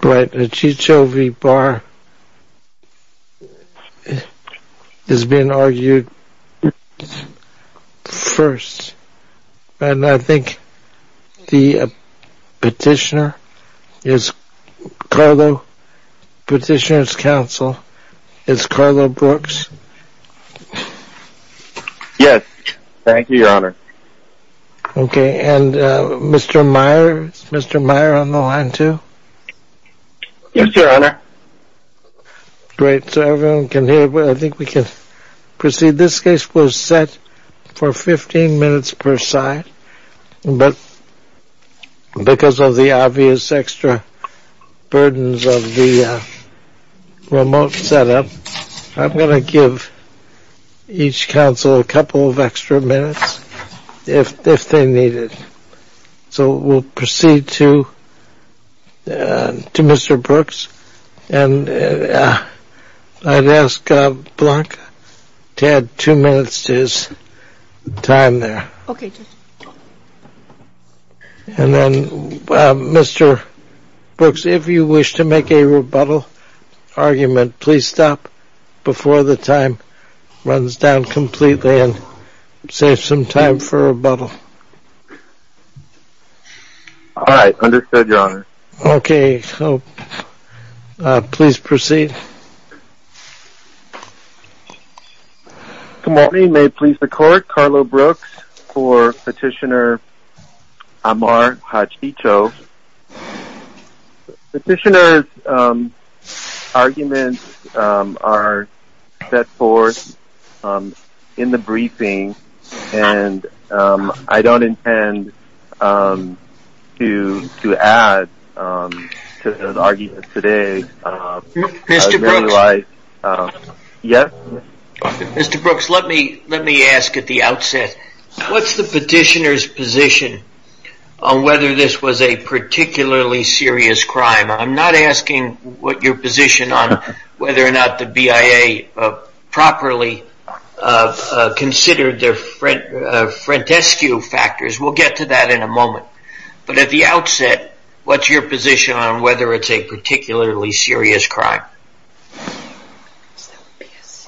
Hachicho v. Barr is being argued first, and I think the Petitioner's Council is Carlo Brooks. Yes, thank you, Your Honor. Okay, and Mr. Meyer, is Mr. Meyer on the line, too? Yes, Your Honor. Great, so everyone can hear, I think we can proceed. This case was set for 15 minutes per side, but because of the obvious extra burdens of the remote setup, I'm going to give each counsel a couple of extra minutes if they need it. So we'll proceed to Mr. Brooks, and I'd ask Blanca to add two minutes to his time there. Okay, Judge. And then, Mr. Brooks, if you wish to make a rebuttal argument, please stop before the time runs down completely and save some time for rebuttal. All right, understood, Your Honor. Okay, so please proceed. Good morning. May it please the Court, Carlo Brooks for Petitioner Ammar Hachicho. The Petitioner's arguments are set forth in the briefing, and I don't intend to add to those arguments today. Mr. Brooks, let me ask at the outset, what's the Petitioner's position on whether this was a particularly serious crime? I'm not asking what your position on whether or not the BIA properly considered the frontescue factors. We'll get to that in a moment. But at the outset, what's your position on whether it's a particularly serious crime?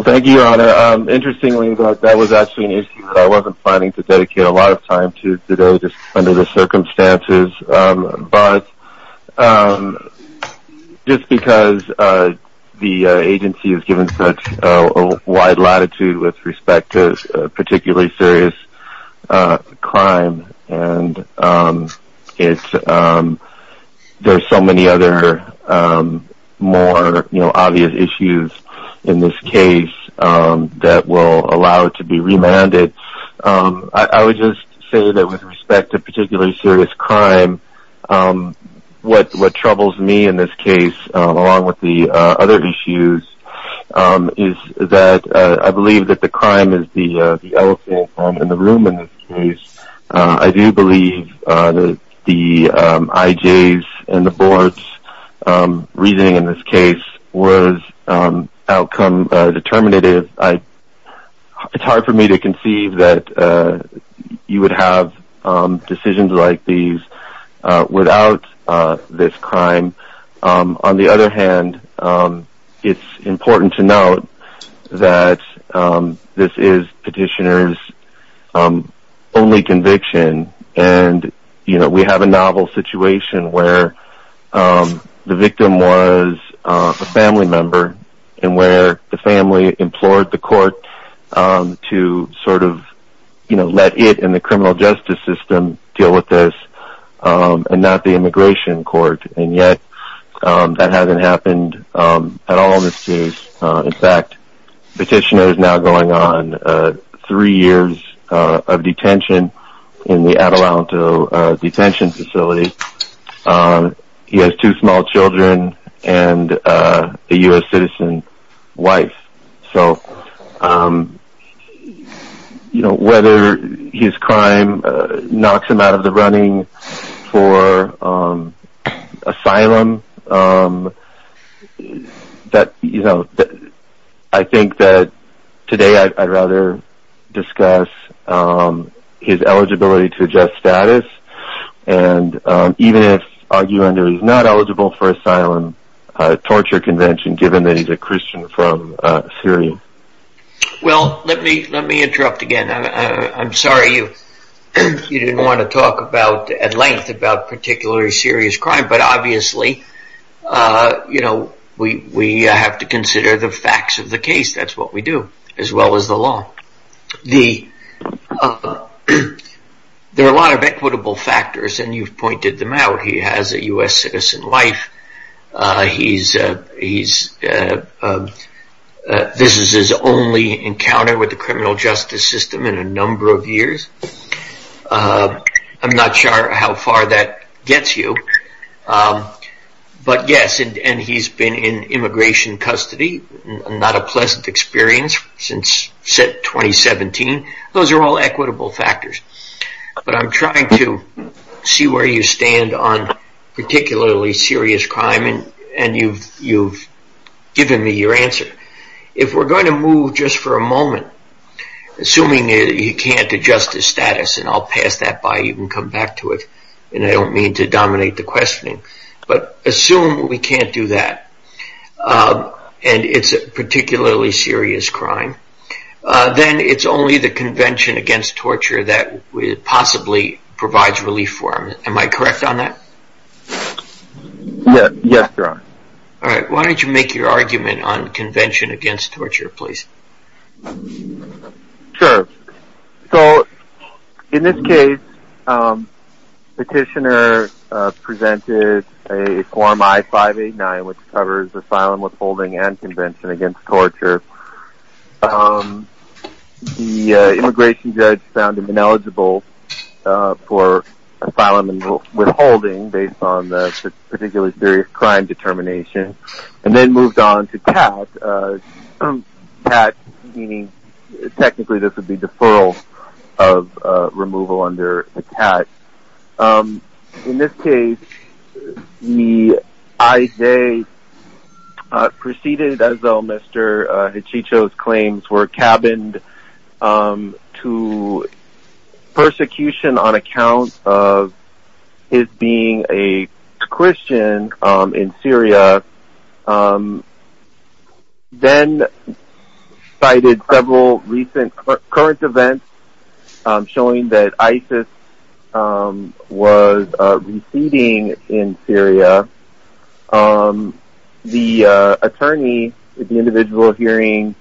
Thank you, Your Honor. Interestingly, that was actually an issue that I wasn't planning to dedicate a lot of time to today just under the circumstances. But just because the agency has given such a wide latitude with respect to a particularly serious crime, and there's so many other more obvious issues in this case that will allow it to be remanded, I would just say that with respect to a particularly serious crime, what troubles me in this case, along with the other issues, is that I believe that the crime is the elephant in the room in this case. I do believe that the IJs and the boards' reasoning in this case was outcome determinative. It's hard for me to conceive that you would have decisions like these without this crime. On the other hand, it's important to note that this is Petitioner's only conviction. We have a novel situation where the victim was a family member and where the family implored the court to let it and the criminal justice system deal with this and not the immigration court. And yet, that hasn't happened at all in this case. In fact, Petitioner is now going on three years of detention in the Adelanto detention facility. He has two small children and a U.S. citizen wife. Whether his crime knocks him out of the running for asylum, I think that today I'd rather discuss his eligibility to adjust status. Even if he's not eligible for asylum, torture convention, given that he's a Christian from Syria. Well, let me interrupt again. I'm sorry you didn't want to talk at length about a particularly serious crime. But obviously, we have to consider the facts of the case. That's what we do, as well as the law. There are a lot of equitable factors and you've pointed them out. He has a U.S. citizen wife. This is his only encounter with the criminal justice system in a number of years. I'm not sure how far that gets you. But yes, he's been in immigration custody. Not a pleasant experience since 2017. Those are all equitable factors. But I'm trying to see where you stand on particularly serious crime and you've given me your answer. If we're going to move just for a moment, assuming he can't adjust his status, and I'll pass that by, you can come back to it. I don't mean to dominate the questioning. But assume we can't do that and it's a particularly serious crime, then it's only the Convention Against Torture that possibly provides relief for him. Am I correct on that? Yes, you're right. Why don't you make your argument on Convention Against Torture, please. Sure. So in this case, Petitioner presented a form I-589 which covers asylum, withholding, and Convention Against Torture. The immigration judge found him ineligible for asylum and withholding based on the particularly serious crime determination and then moved on to TAT, meaning technically this would be deferral of removal under the TAT. In this case, the IJ, preceded as though Mr. Hachicho's claims were cabined to persecution on account of his being a Christian in Syria, then cited several recent current events showing that ISIS was receding in Syria. The attorney at the individual hearing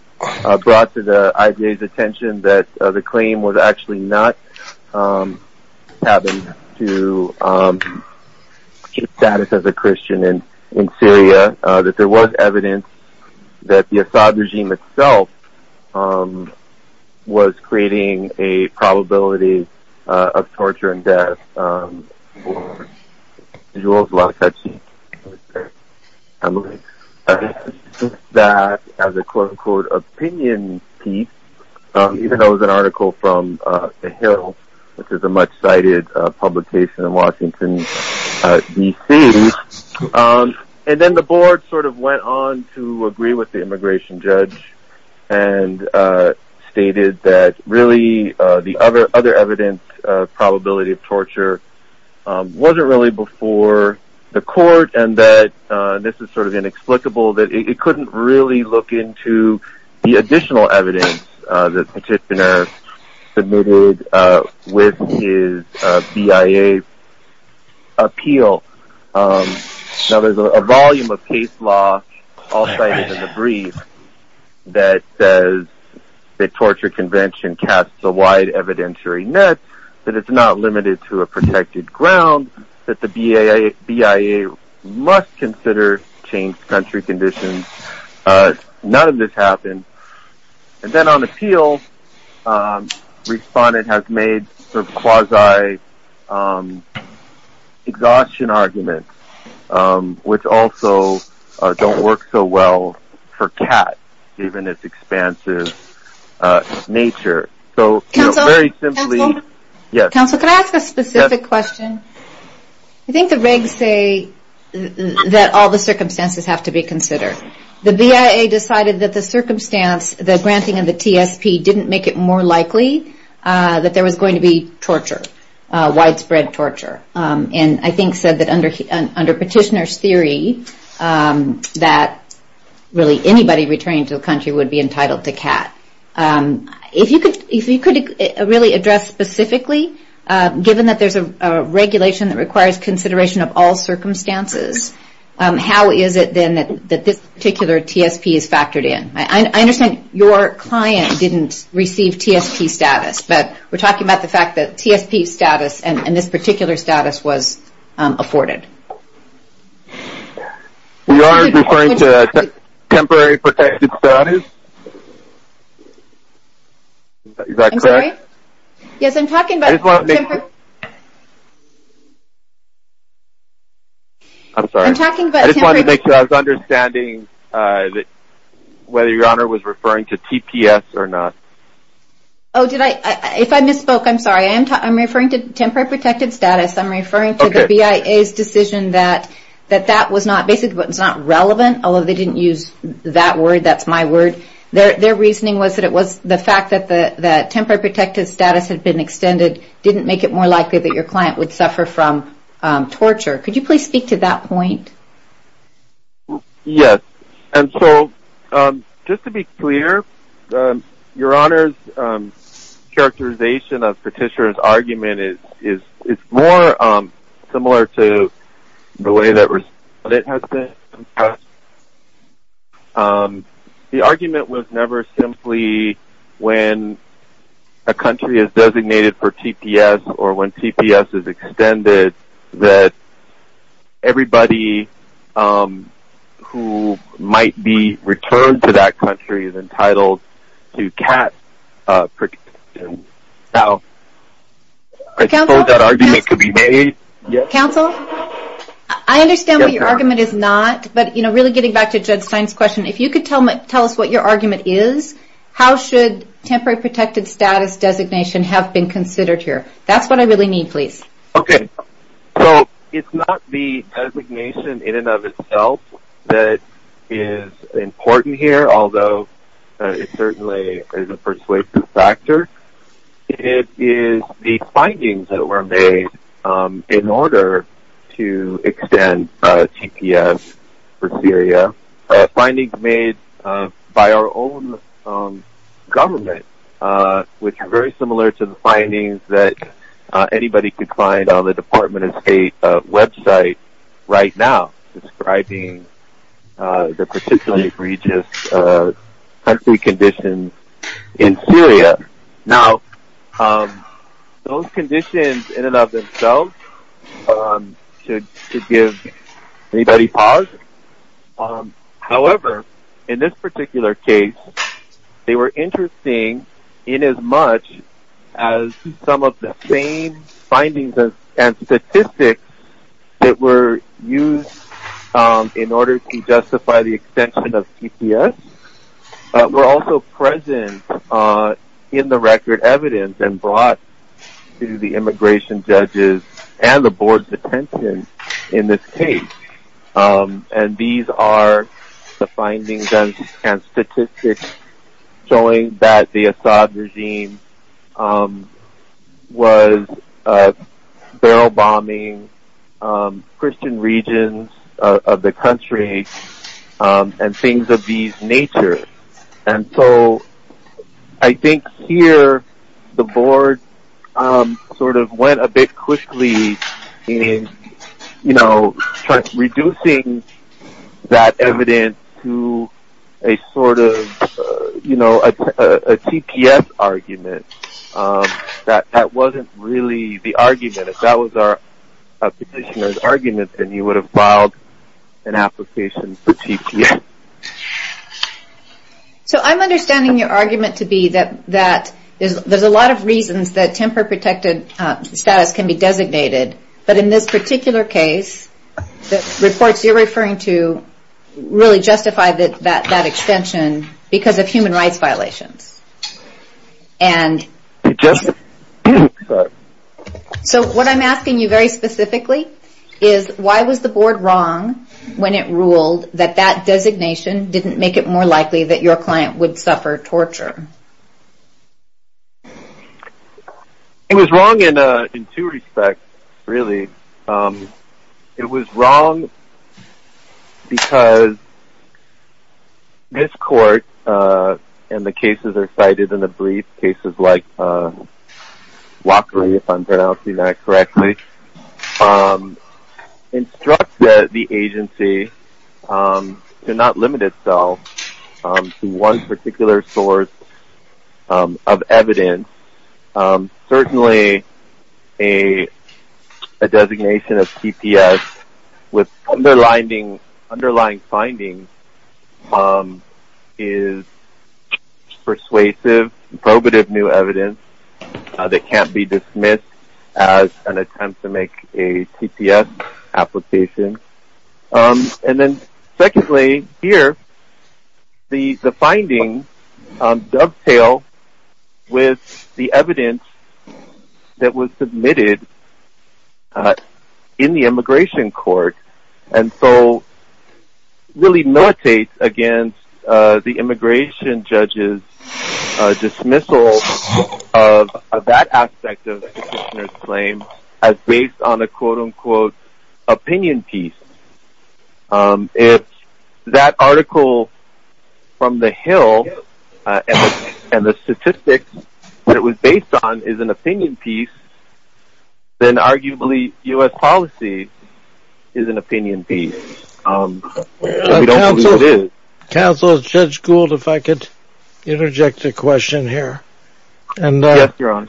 brought to the IJ's attention that the claim was actually not cabined to status as a Christian in Syria, that there was evidence that the Assad regime itself was creating a probability of torture and death. For Jules Lacacci, that as a quote-unquote opinion piece, even though it was an article from The Hill, which is a much-cited publication in Washington, D.C., and then the board sort of went on to agree with the immigration judge and stated that really the other evidence of probability of torture wasn't really before the court and that this is sort of inexplicable, that it couldn't really look into the additional evidence that the petitioner submitted with his BIA appeal. Now there's a volume of case law, all cited in the brief, that says the torture convention casts a wide evidentiary net, that it's not limited to a protected ground, that the BIA must consider changed country conditions. None of this happened. And then on appeal, the respondent has made quasi-exhaustion arguments, which also don't work so well for CAT, given its expansive nature. Counsel, can I ask a specific question? I think the regs say that all the circumstances have to be considered. The BIA decided that the circumstance, the granting of the TSP, didn't make it more likely that there was going to be torture, widespread torture. And I think said that under petitioner's theory, that really anybody returning to the country would be entitled to CAT. If you could really address specifically, given that there's a regulation that requires consideration of all circumstances, how is it then that this particular TSP is factored in? I understand your client didn't receive TSP status, but we're talking about the fact that TSP status and this particular status was afforded. We are referring to temporary protected status. Is that correct? I'm sorry? Yes, I'm talking about temporary. I'm sorry. I'm talking about temporary. I just wanted to make sure I was understanding whether your Honor was referring to TPS or not. Oh, did I? If I misspoke, I'm sorry. I'm referring to temporary protected status. I'm referring to the BIA's decision that that was not relevant, although they didn't use that word. That's my word. Their reasoning was that it was the fact that temporary protected status had been extended didn't make it more likely that your client would suffer from torture. Could you please speak to that point? Yes, and so just to be clear, your Honor's characterization of Petitioner's argument is more similar to the way that it has been expressed. The argument was never simply when a country is designated for TPS or when TPS is extended that everybody who might be returned to that country is entitled to CAT. I suppose that argument could be made. Counsel, I understand what your argument is not, but really getting back to Jud Stein's question, if you could tell us what your argument is, how should temporary protected status designation have been considered here? That's what I really need, please. Okay, so it's not the designation in and of itself that is important here, although it certainly is a persuasive factor. It is the findings that were made in order to extend TPS for Syria, or findings made by our own government, which are very similar to the findings that anybody could find on the Department of State website right now, describing the particularly egregious country conditions in Syria. Now, those conditions in and of themselves should give anybody pause. However, in this particular case, they were interesting in as much as some of the same findings and statistics that were used in order to justify the extension of TPS were also present in the record evidence and brought to the immigration judges and the board's attention in this case. And these are the findings and statistics showing that the Assad regime was barrel bombing Christian regions of the country and things of these natures. And so I think here the board sort of went a bit quickly in, you know, reducing that evidence to a sort of, you know, a TPS argument. That wasn't really the argument. If that was our petitioner's argument, then you would have filed an application for TPS. So I'm understanding your argument to be that there's a lot of reasons that temper protected status can be designated. But in this particular case, the reports you're referring to really justify that extension because of human rights violations. And so what I'm asking you very specifically is, why was the board wrong when it ruled that that designation didn't make it more likely that your client would suffer torture? It was wrong in two respects, really. It was wrong because this court, and the cases are cited in the brief, cases like WACRI, if I'm pronouncing that correctly, instructs the agency to not limit itself to one particular source of evidence. Certainly a designation of TPS with underlying findings is persuasive, probative new evidence that can't be dismissed as an attempt to make a TPS application. And then secondly, here, the findings dovetail with the evidence that was submitted in the immigration court. And so really militates against the immigration judge's dismissal of that aspect of the petitioner's claim as based on a quote-unquote opinion piece. If that article from the Hill and the statistics that it was based on is an opinion piece, then arguably U.S. policy is an opinion piece. Counsel, Judge Gould, if I could interject a question here. Yes, Your Honor.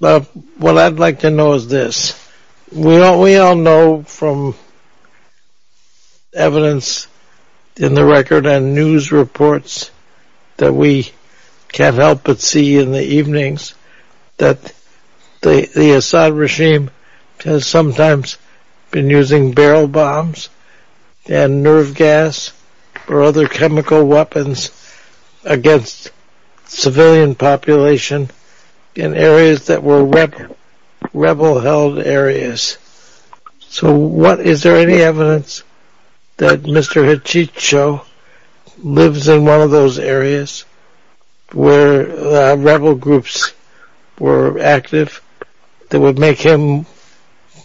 What I'd like to know is this. We all know from evidence in the record and news reports that we can't help but see in the evenings that the Assad regime has sometimes been using barrel bombs and nerve gas or other chemical weapons against civilian population in areas that were rebel-held areas. So is there any evidence that Mr. Hachicho lives in one of those areas where rebel groups were active that would make him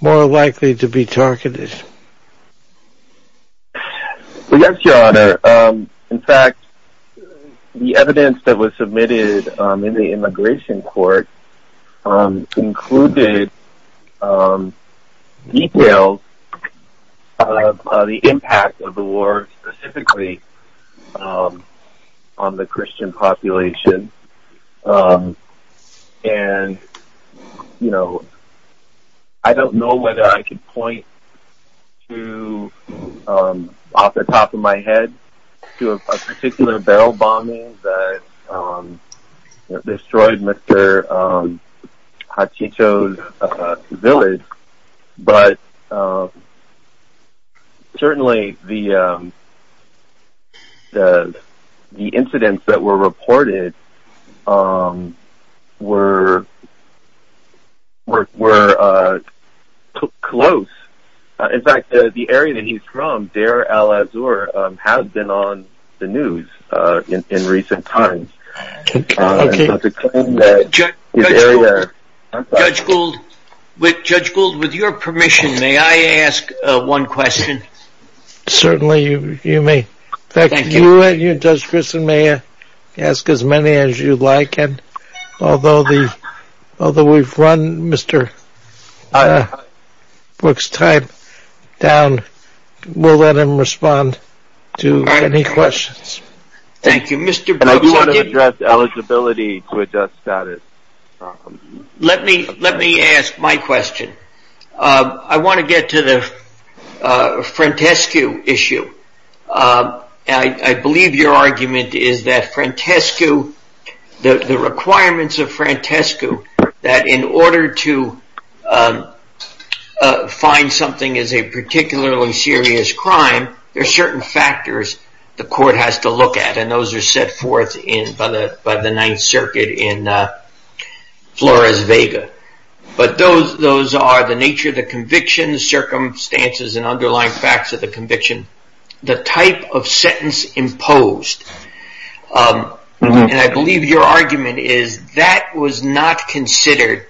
more likely to be targeted? Yes, Your Honor. In fact, the evidence that was submitted in the immigration court included details of the impact of the war specifically on the Christian population. I don't know whether I can point off the top of my head to a particular barrel bombing that destroyed Mr. Hachicho's village, but certainly the incidents that were reported were close. In fact, the area that he's from, Deir al-Azour, has been on the news in recent times. Judge Gould, with your permission, may I ask one question? Certainly, you may. In fact, you and Judge Grissom may ask as many as you like. Although we've run Mr. Brooks' time down, we'll let him respond to any questions. I do want to address eligibility to adjust status. Let me ask my question. I want to get to the Frantescu issue. I believe your argument is that the requirements of Frantescu that in order to find something as a particularly serious crime, there are certain factors the court has to look at. Those are set forth by the Ninth Circuit in Flores-Vega. Those are the nature of the conviction, the circumstances and underlying facts of the conviction, the type of sentence imposed. I believe your argument is that was not considered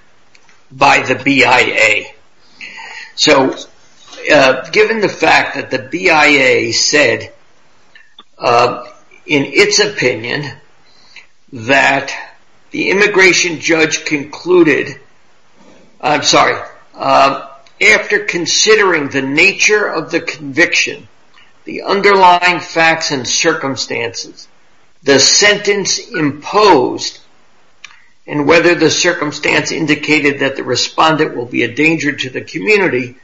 by the BIA. Given the fact that the BIA said in its opinion that the immigration judge concluded, after considering the nature of the conviction, the underlying facts and circumstances, the sentence imposed and whether the circumstance indicated that the respondent will be a danger to the community,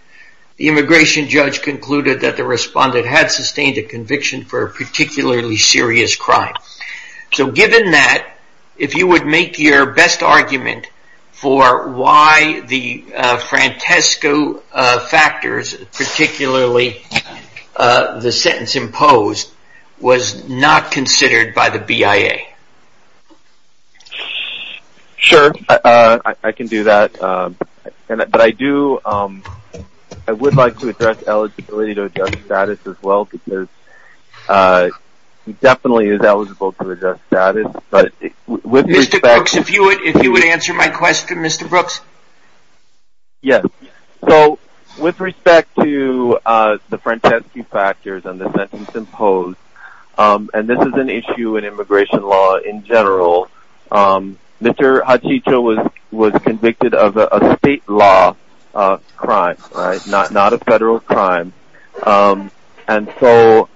the immigration judge concluded that the respondent had sustained a conviction for a particularly serious crime. Given that, if you would make your best argument for why the Frantescu factors, particularly the sentence imposed, was not considered by the BIA. Sure, I can do that. I would like to address eligibility to adjust status as well because he definitely is eligible to adjust status. Mr. Brooks, if you would answer my question, Mr. Brooks. Yes. With respect to the Frantescu factors and the sentence imposed, and this is an issue in immigration law in general, Mr. Hachicho was convicted of a state law crime, not a federal crime. And so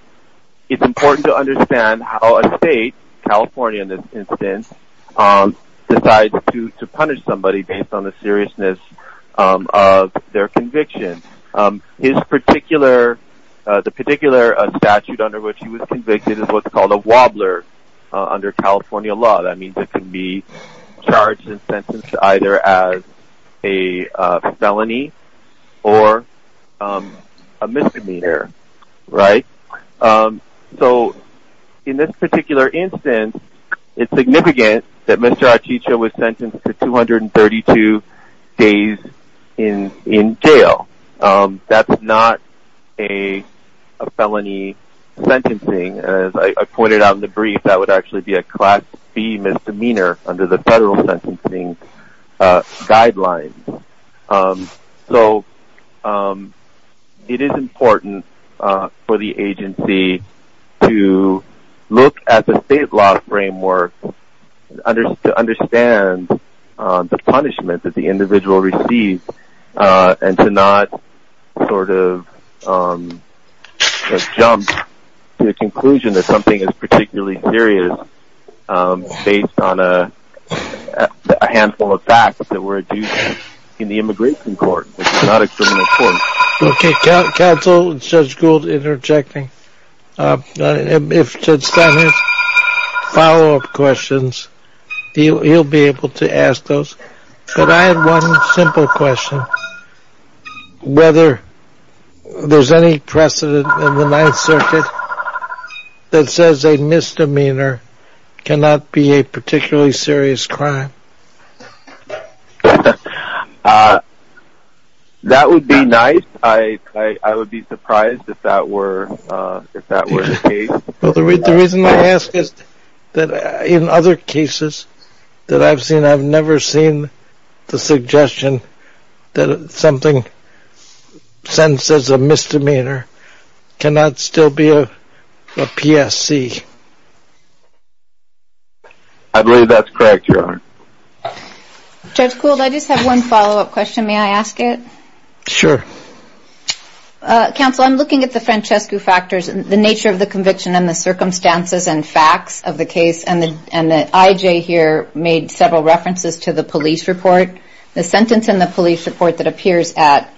it's important to understand how a state, California in this instance, decides to punish somebody based on the seriousness of their conviction. The particular statute under which he was convicted is what's called a wobbler under California law. That means it can be charged and sentenced either as a felony or a misdemeanor, right? So in this particular instance, it's significant that Mr. Hachicho was sentenced to 232 days in jail. That's not a felony sentencing. As I pointed out in the brief, that would actually be a class B misdemeanor under the federal sentencing guidelines. So it is important for the agency to look at the state law framework, to understand the punishment that the individual received, and to not sort of jump to the conclusion that something is particularly serious based on a handful of facts that were adduced in the immigration court, which is not a criminal court. Okay, counsel, Judge Gould interjecting. If Judge Steiner has follow-up questions, he'll be able to ask those. But I have one simple question. Whether there's any precedent in the Ninth Circuit that says a misdemeanor cannot be a particularly serious crime? That would be nice. I would be surprised if that were the case. Well, the reason I ask is that in other cases that I've seen, I've never seen the suggestion that something sentenced as a misdemeanor cannot still be a PSC. I believe that's correct, Your Honor. Judge Gould, I just have one follow-up question. May I ask it? Sure. Counsel, I'm looking at the Francescu factors, the nature of the conviction and the circumstances and facts of the case. And the IJ here made several references to the police report. The sentence in the police report that appears at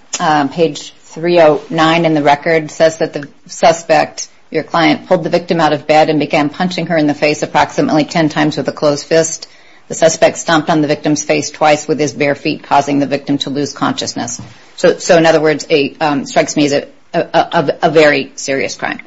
page 309 in the record says that the suspect, your client, pulled the victim out of bed and began punching her in the face approximately ten times with a closed fist. The suspect stomped on the victim's face twice with his bare feet, causing the victim to lose consciousness. So in other words, it strikes me as a very serious crime.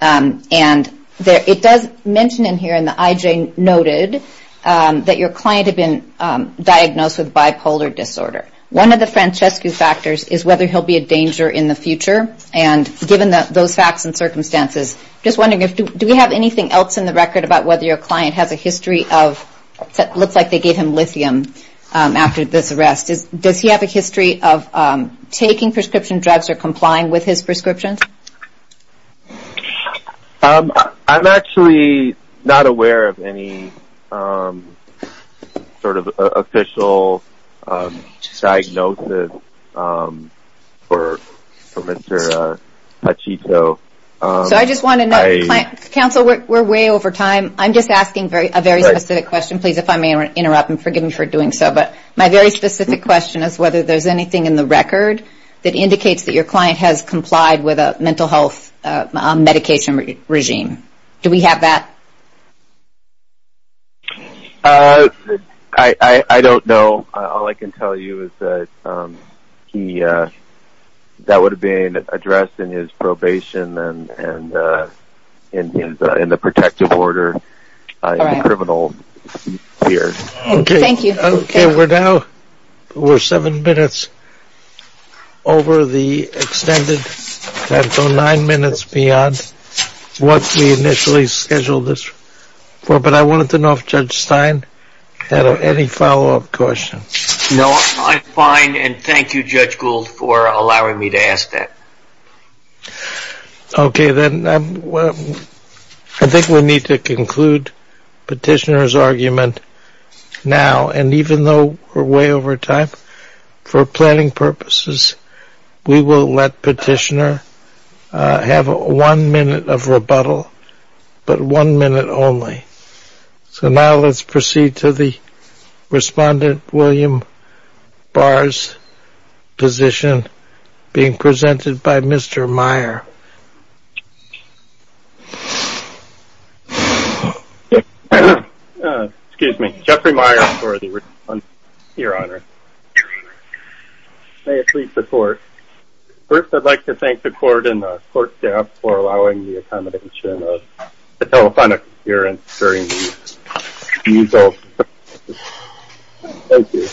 And it does mention in here in the IJ noted that your client had been diagnosed with bipolar disorder. One of the Francescu factors is whether he'll be a danger in the future. And given those facts and circumstances, just wondering, do we have anything else in the record about whether your client has a history of, it looks like they gave him lithium after this arrest. Does he have a history of taking prescription drugs or complying with his prescriptions? I'm actually not aware of any sort of official diagnosis for Mr. Pachito. So I just want to note, counsel, we're way over time. I'm just asking a very specific question. Please, if I may interrupt and forgive me for doing so. But my very specific question is whether there's anything in the record that indicates that your client has complied with a mental health medication regime. Do we have that? I don't know. All I can tell you is that that would have been addressed in his probation and in the protective order in the criminal sphere. Thank you. Okay. We're now, we're seven minutes over the extended time. So nine minutes beyond what we initially scheduled this for. But I wanted to know if Judge Stein had any follow-up questions. No, I'm fine. And thank you, Judge Gould, for allowing me to ask that. Okay. Then I think we need to conclude Petitioner's argument now. And even though we're way over time, for planning purposes, we will let Petitioner have one minute of rebuttal, but one minute only. Okay. So now let's proceed to the Respondent William Barr's position being presented by Mr. Meyer. Excuse me. Jeffrey Meyer for the response, Your Honor. May it please the Court. First, I'd like to thank the Court and the Court staff for allowing the accommodation of the telephonic appearance during the rebuttal. Thank you.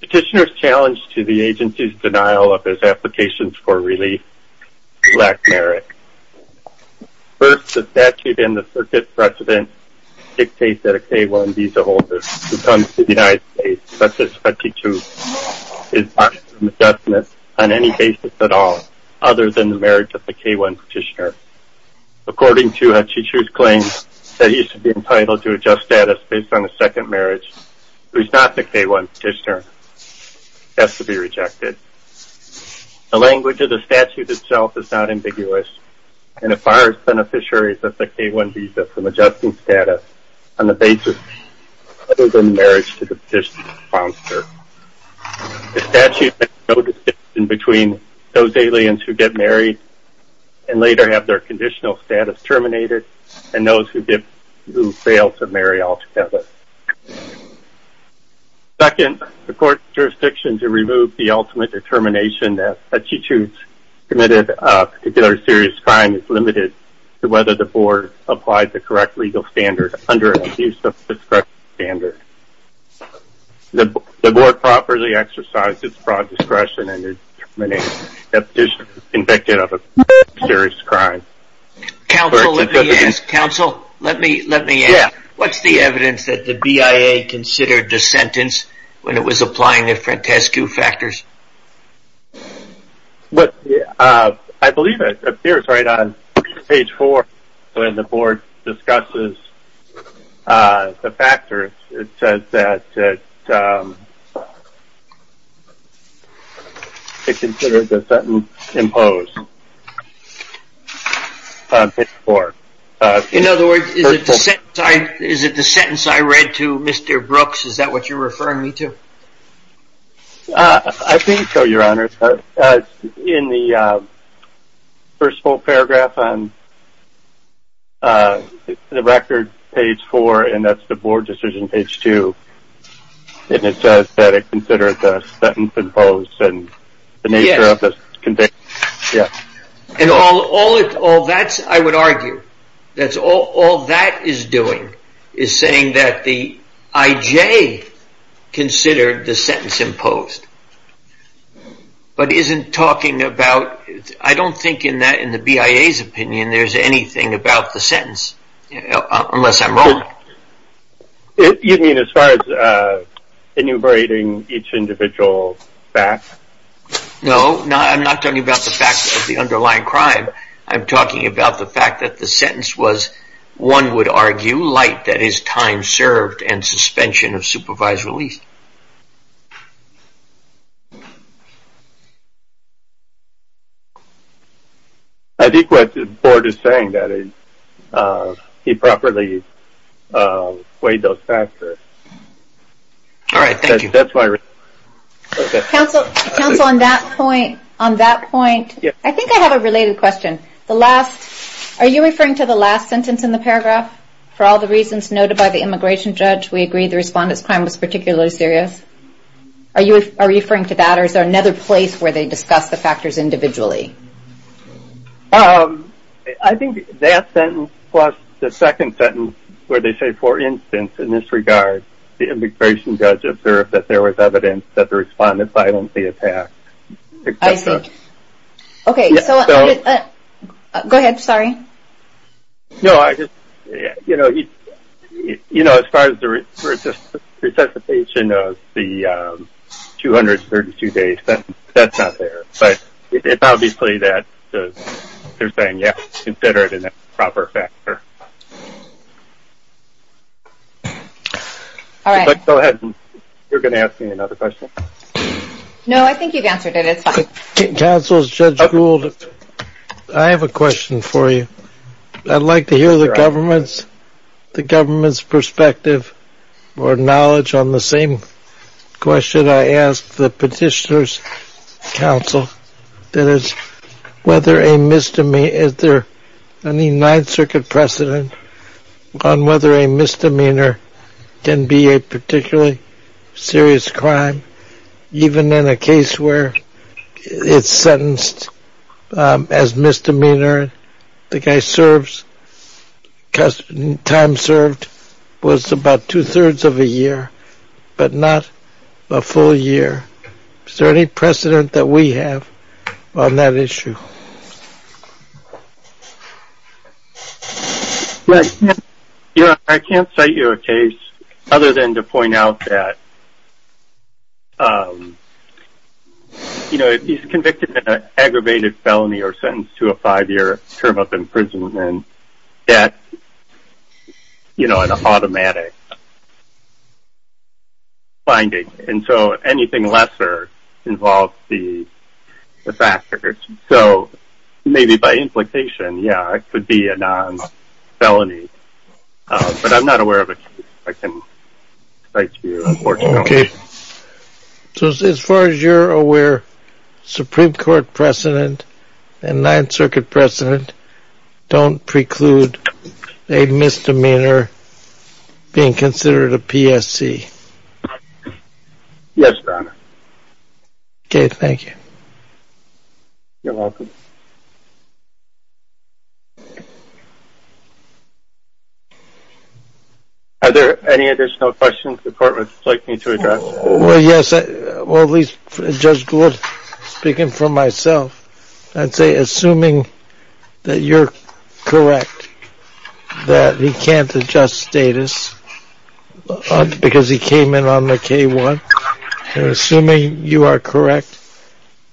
Petitioner's challenge to the agency's denial of his applications for relief lacked merit. First, the statute in the circuit precedent dictates that a K-1 visa holder who comes to the United States, such as Khachichou, is asked for an adjustment on any basis at all other than the marriage of the K-1 petitioner. According to Khachichou's claim that he should be entitled to adjust status based on a second marriage, who is not the K-1 petitioner, has to be rejected. The language of the statute itself is not ambiguous and requires beneficiaries of the K-1 visa from adjusting status on the basis other than marriage to the petitioner's sponsor. The statute makes no distinction between those aliens who get married and later have their conditional status terminated and those who fail to marry altogether. Second, the Court's jurisdiction to remove the ultimate determination that Khachichou committed a particular serious crime is limited to whether the Board applied the correct legal standard under an abuse of discretion standard. The Board properly exercises broad discretion in determining if the petitioner is convicted of a serious crime. Counsel, let me ask. What's the evidence that the BIA considered the sentence when it was applying the Frantescu factors? I believe it appears right on page 4 when the Board discusses the factors. It says that it considered the sentence imposed on page 4. In other words, is it the sentence I read to Mr. Brooks? Is that what you're referring me to? I think so, Your Honor. In the first full paragraph on the record, page 4, and that's the Board decision, page 2, it says that it considered the sentence imposed and the nature of the conviction. And all that, I would argue, all that is doing is saying that the IJ considered the sentence imposed, but isn't talking about, I don't think in the BIA's opinion there's anything about the sentence, unless I'm wrong. You mean as far as enumerating each individual fact? No, I'm not talking about the underlying crime. I'm talking about the fact that the sentence was, one would argue, light, that is time served and suspension of supervised release. I think what the Board is saying is that he properly weighed those factors. All right, thank you. Counsel, on that point, I think I have a related question. The last, are you referring to the last sentence in the paragraph? For all the reasons noted by the immigration judge, we agree the respondent's crime was particularly serious. Are you referring to that or is there another place where they discuss the factors individually? I think that sentence plus the second sentence where they say, for instance, in this regard, the immigration judge observed that there was evidence that the respondent violently attacked. I see. Okay, so go ahead, sorry. No, I just, you know, as far as the resuscitation of the 232-day sentence, that's not there. But it's obviously that they're saying, yeah, consider it a proper factor. All right. Go ahead. You were going to ask me another question? No, I think you've answered it. It's fine. Counsel, Judge Gould, I have a question for you. I'd like to hear the government's perspective or knowledge on the same question I asked the petitioners. Counsel, is there any Ninth Circuit precedent on whether a misdemeanor can be a particularly serious crime? Even in a case where it's sentenced as misdemeanor, the guy's time served was about two-thirds of a year, but not a full year. Is there any precedent that we have on that issue? I can't cite you a case other than to point out that, you know, if he's convicted of an aggravated felony or sentenced to a five-year term up in prison, then that's, you know, an automatic finding. And so anything lesser involves the factors. So maybe by implication, yeah, it could be a non-felony. But I'm not aware of a case I can cite to you, unfortunately. Okay. So as far as you're aware, Supreme Court precedent and Ninth Circuit precedent don't preclude a misdemeanor being considered a PSC. Yes, Your Honor. Okay, thank you. You're welcome. Are there any additional questions the court would like me to address? Well, yes, at least Judge Gould, speaking for myself, I'd say assuming that you're correct that he can't adjust status because he came in on the K-1, and assuming you are correct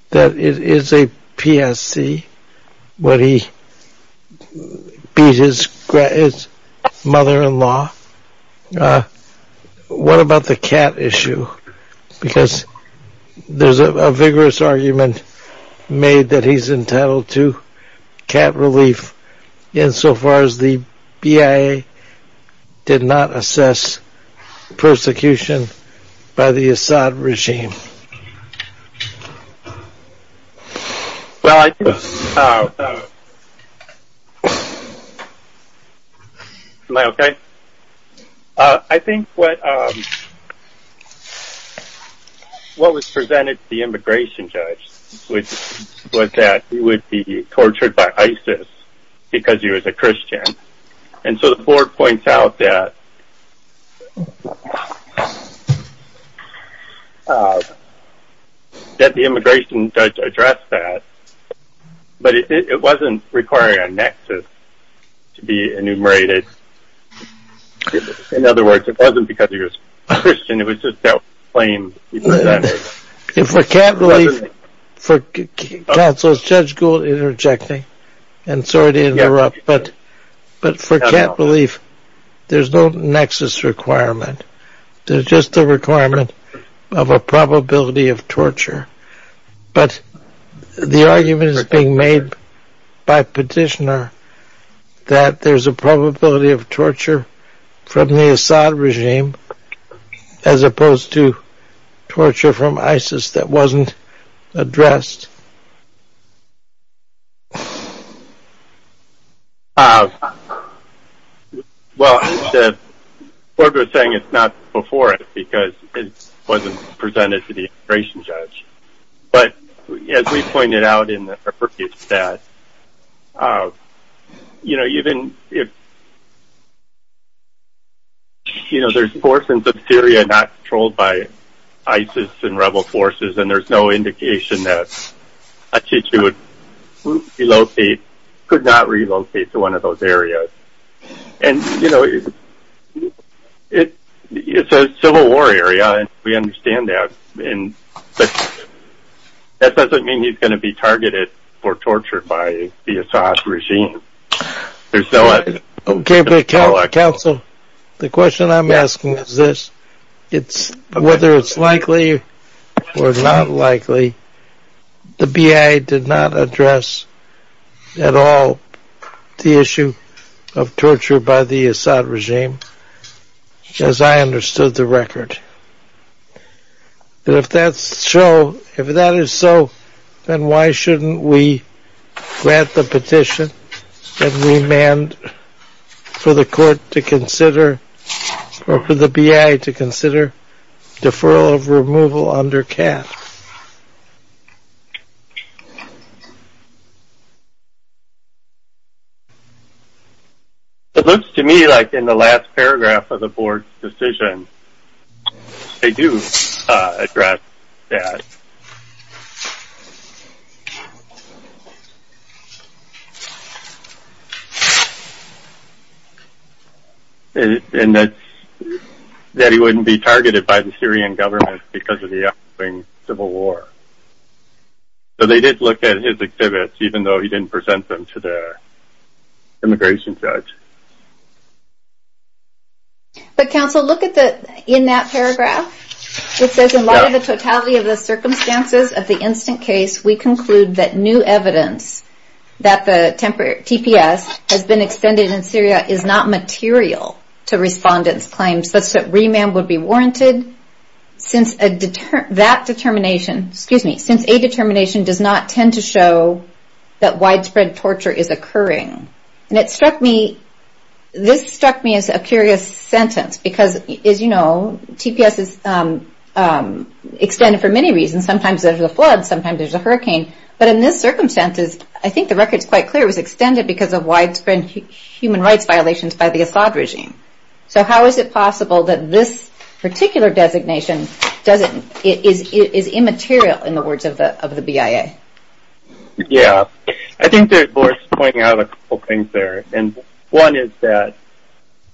that it is a PSC when he beat his mother-in-law, what about the cat issue? Because there's a vigorous argument made that he's entitled to cat relief insofar as the BIA did not assess persecution by the Assad regime. Well, I think what was presented to the immigration judge was that he would be tortured by ISIS because he was a Christian. And so the court points out that the immigration judge addressed that, but it wasn't requiring a nexus to be enumerated. In other words, it wasn't because he was a Christian, it was just that claim. For cat relief, for counsel, is Judge Gould interjecting? And sorry to interrupt, but for cat relief, there's no nexus requirement. There's just a requirement of a probability of torture. But the argument is being made by petitioner that there's a probability of torture from the Assad regime as opposed to torture from ISIS that wasn't addressed. Well, the court was saying it's not before it because it wasn't presented to the immigration judge. But as we pointed out in the repurposed stat, there's portions of Syria not controlled by ISIS and rebel forces, and there's no indication that a teacher could not relocate to one of those areas. And, you know, it's a civil war area and we understand that, but that doesn't mean he's going to be targeted or tortured by the Assad regime. Okay, but counsel, the question I'm asking is this. Whether it's likely or not likely, the BI did not address at all the issue of torture by the Assad regime, as I understood the record. But if that's so, if that is so, then why shouldn't we grant the petition and remand for the court to consider or for the BI to consider deferral of removal under cat? It looks to me like in the last paragraph of the board's decision, they do address that. And that he wouldn't be targeted by the Syrian government because of the ongoing civil war. So they did look at his exhibits, even though he didn't present them to the immigration judge. But counsel, look at the, in that paragraph, it says in light of the totality of the circumstances of the instant case, we conclude that new evidence that the TPS has been extended in Syria is not material to respondents' claims, such that remand would be warranted since that determination, excuse me, since a determination does not tend to show that widespread torture is occurring. And it struck me, this struck me as a curious sentence, because as you know, TPS is extended for many reasons. Sometimes there's a flood, sometimes there's a hurricane. But in this circumstance, I think the record is quite clear, it was extended because of widespread human rights violations by the Assad regime. So how is it possible that this particular designation is immaterial in the words of the BIA? Yeah, I think that Laura's pointing out a couple things there. And one is that,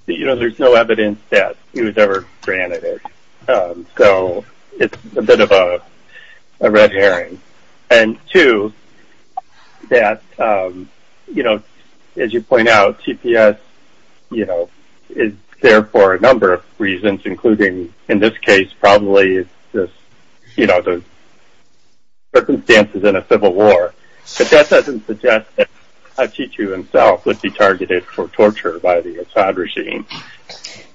you know, there's no evidence that he was ever granted it. So it's a bit of a red herring. And two, that, you know, as you point out, TPS, you know, is there for a number of reasons, including, in this case, probably it's just, you know, the circumstances in a civil war. But that doesn't suggest that Khadiju himself would be targeted for torture by the Assad regime.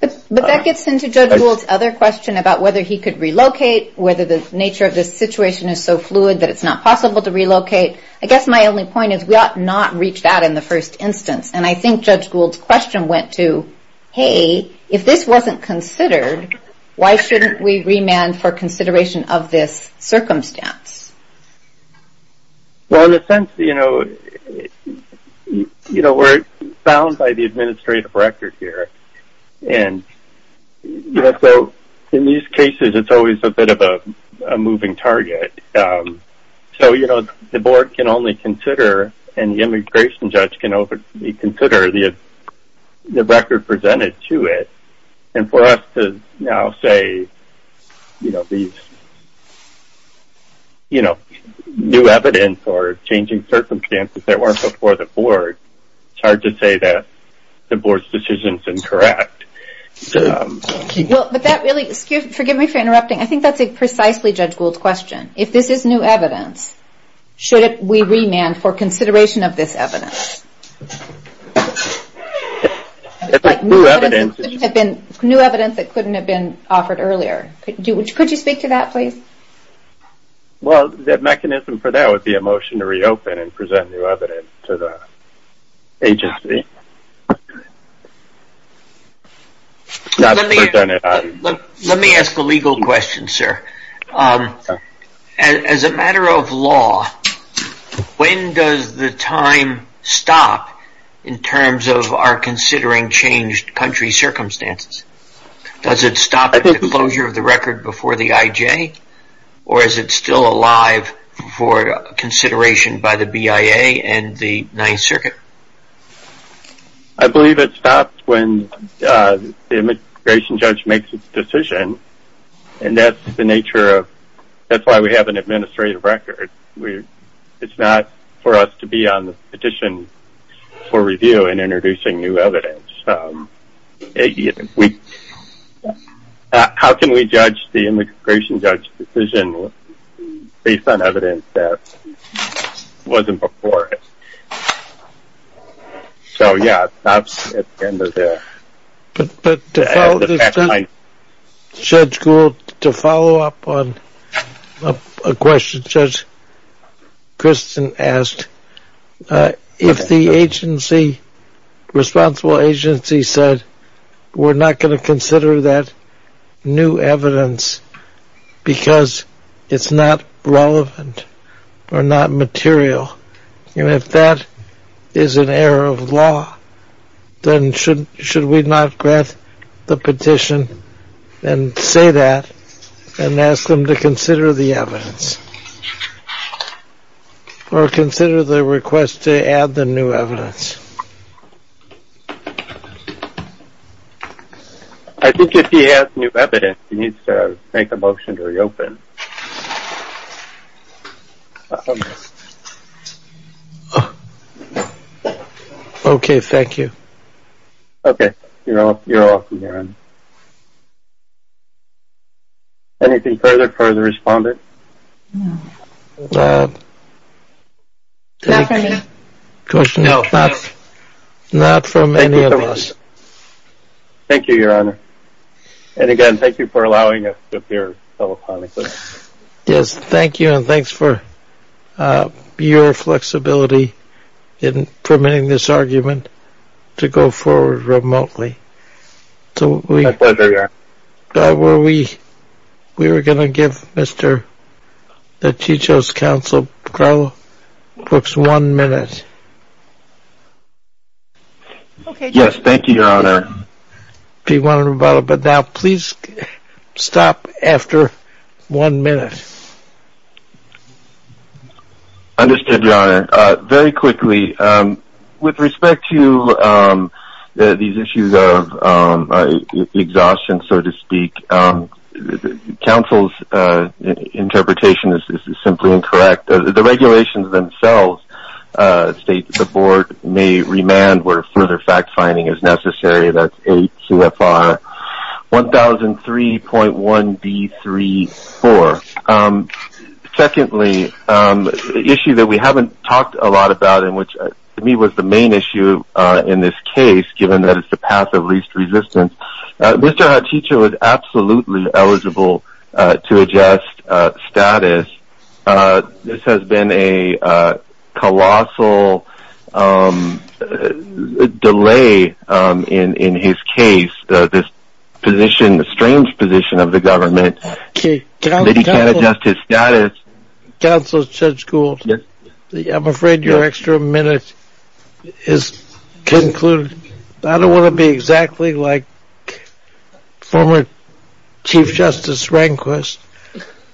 But that gets into Judge Gould's other question about whether he could relocate, whether the nature of this situation is so fluid that it's not possible to relocate. I guess my only point is we ought not reach that in the first instance. And I think Judge Gould's question went to, hey, if this wasn't considered, why shouldn't we remand for consideration of this circumstance? Well, in a sense, you know, we're bound by the administrative record here. And so in these cases, it's always a bit of a moving target. So, you know, the board can only consider and the immigration judge can only consider the record presented to it. And for us to now say, you know, new evidence or changing circumstances that weren't before the board, it's hard to say that the board's decision is incorrect. Well, but that really, excuse me, forgive me for interrupting. I think that's a precisely Judge Gould's question. If this is new evidence, should we remand for consideration of this evidence? Like new evidence that couldn't have been offered earlier. Could you speak to that, please? Well, the mechanism for that would be a motion to reopen and present new evidence to the agency. Let me ask a legal question, sir. As a matter of law, when does the time stop in terms of our considering changed country circumstances? Does it stop at the closure of the record before the IJ? Or is it still alive for consideration by the BIA and the Ninth Circuit? I believe it stops when the immigration judge makes its decision. And that's the nature of, that's why we have an administrative record. It's not for us to be on the petition for review and introducing new evidence. We, how can we judge the immigration judge's decision based on evidence that wasn't before? So, yeah, it stops at the end of the. But Judge Gould, to follow up on a question Judge Christen asked, if the agency, responsible agency said, we're not going to consider that new evidence because it's not relevant or not material. And if that is an error of law, then should we not grant the petition and say that and ask them to consider the evidence? Or consider the request to add the new evidence? I think if he has new evidence, he needs to make a motion to reopen. OK, thank you. OK, you're off. You're off. Anything further for the respondent? No, not from any of us. Thank you, Your Honor. And again, thank you for allowing us to appear telephonically. Yes, thank you. And thanks for your flexibility in permitting this argument to go forward remotely. My pleasure, Your Honor. We were going to give Mr. DiCiccio's counsel, Carlo Cooks, one minute. Yes, thank you, Your Honor. If you want to rebuttal, but now please stop after one minute. Understood, Your Honor. Thank you, Your Honor. Very quickly, with respect to these issues of exhaustion, so to speak, counsel's interpretation is simply incorrect. The regulations themselves state that the board may remand where further fact-finding is necessary. That's 8 CFR 1003.1B34. Secondly, an issue that we haven't talked a lot about and which to me was the main issue in this case, given that it's the path of least resistance, Mr. DiCiccio is absolutely eligible to adjust status. This has been a colossal delay in his case, this strange position of the government. He can't adjust his status. Counsel Judge Gould, I'm afraid your extra minute is concluded. I don't want to be exactly like former Chief Justice Rehnquist,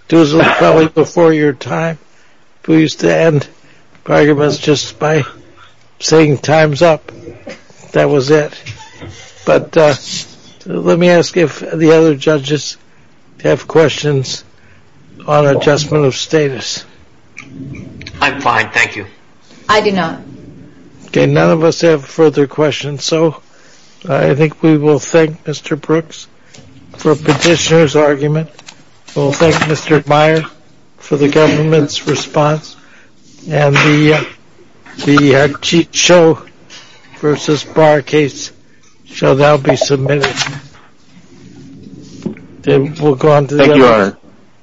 who was probably before your time, who used to end arguments just by saying time's up. That was it. But let me ask if the other judges have questions on adjustment of status. I'm fine, thank you. I do not. Okay, none of us have further questions. So I think we will thank Mr. Brooks for petitioner's argument. We'll thank Mr. Meyer for the government's response. And the DiCiccio versus Barr case shall now be submitted. We'll go on to the other. Thank you, Your Honor.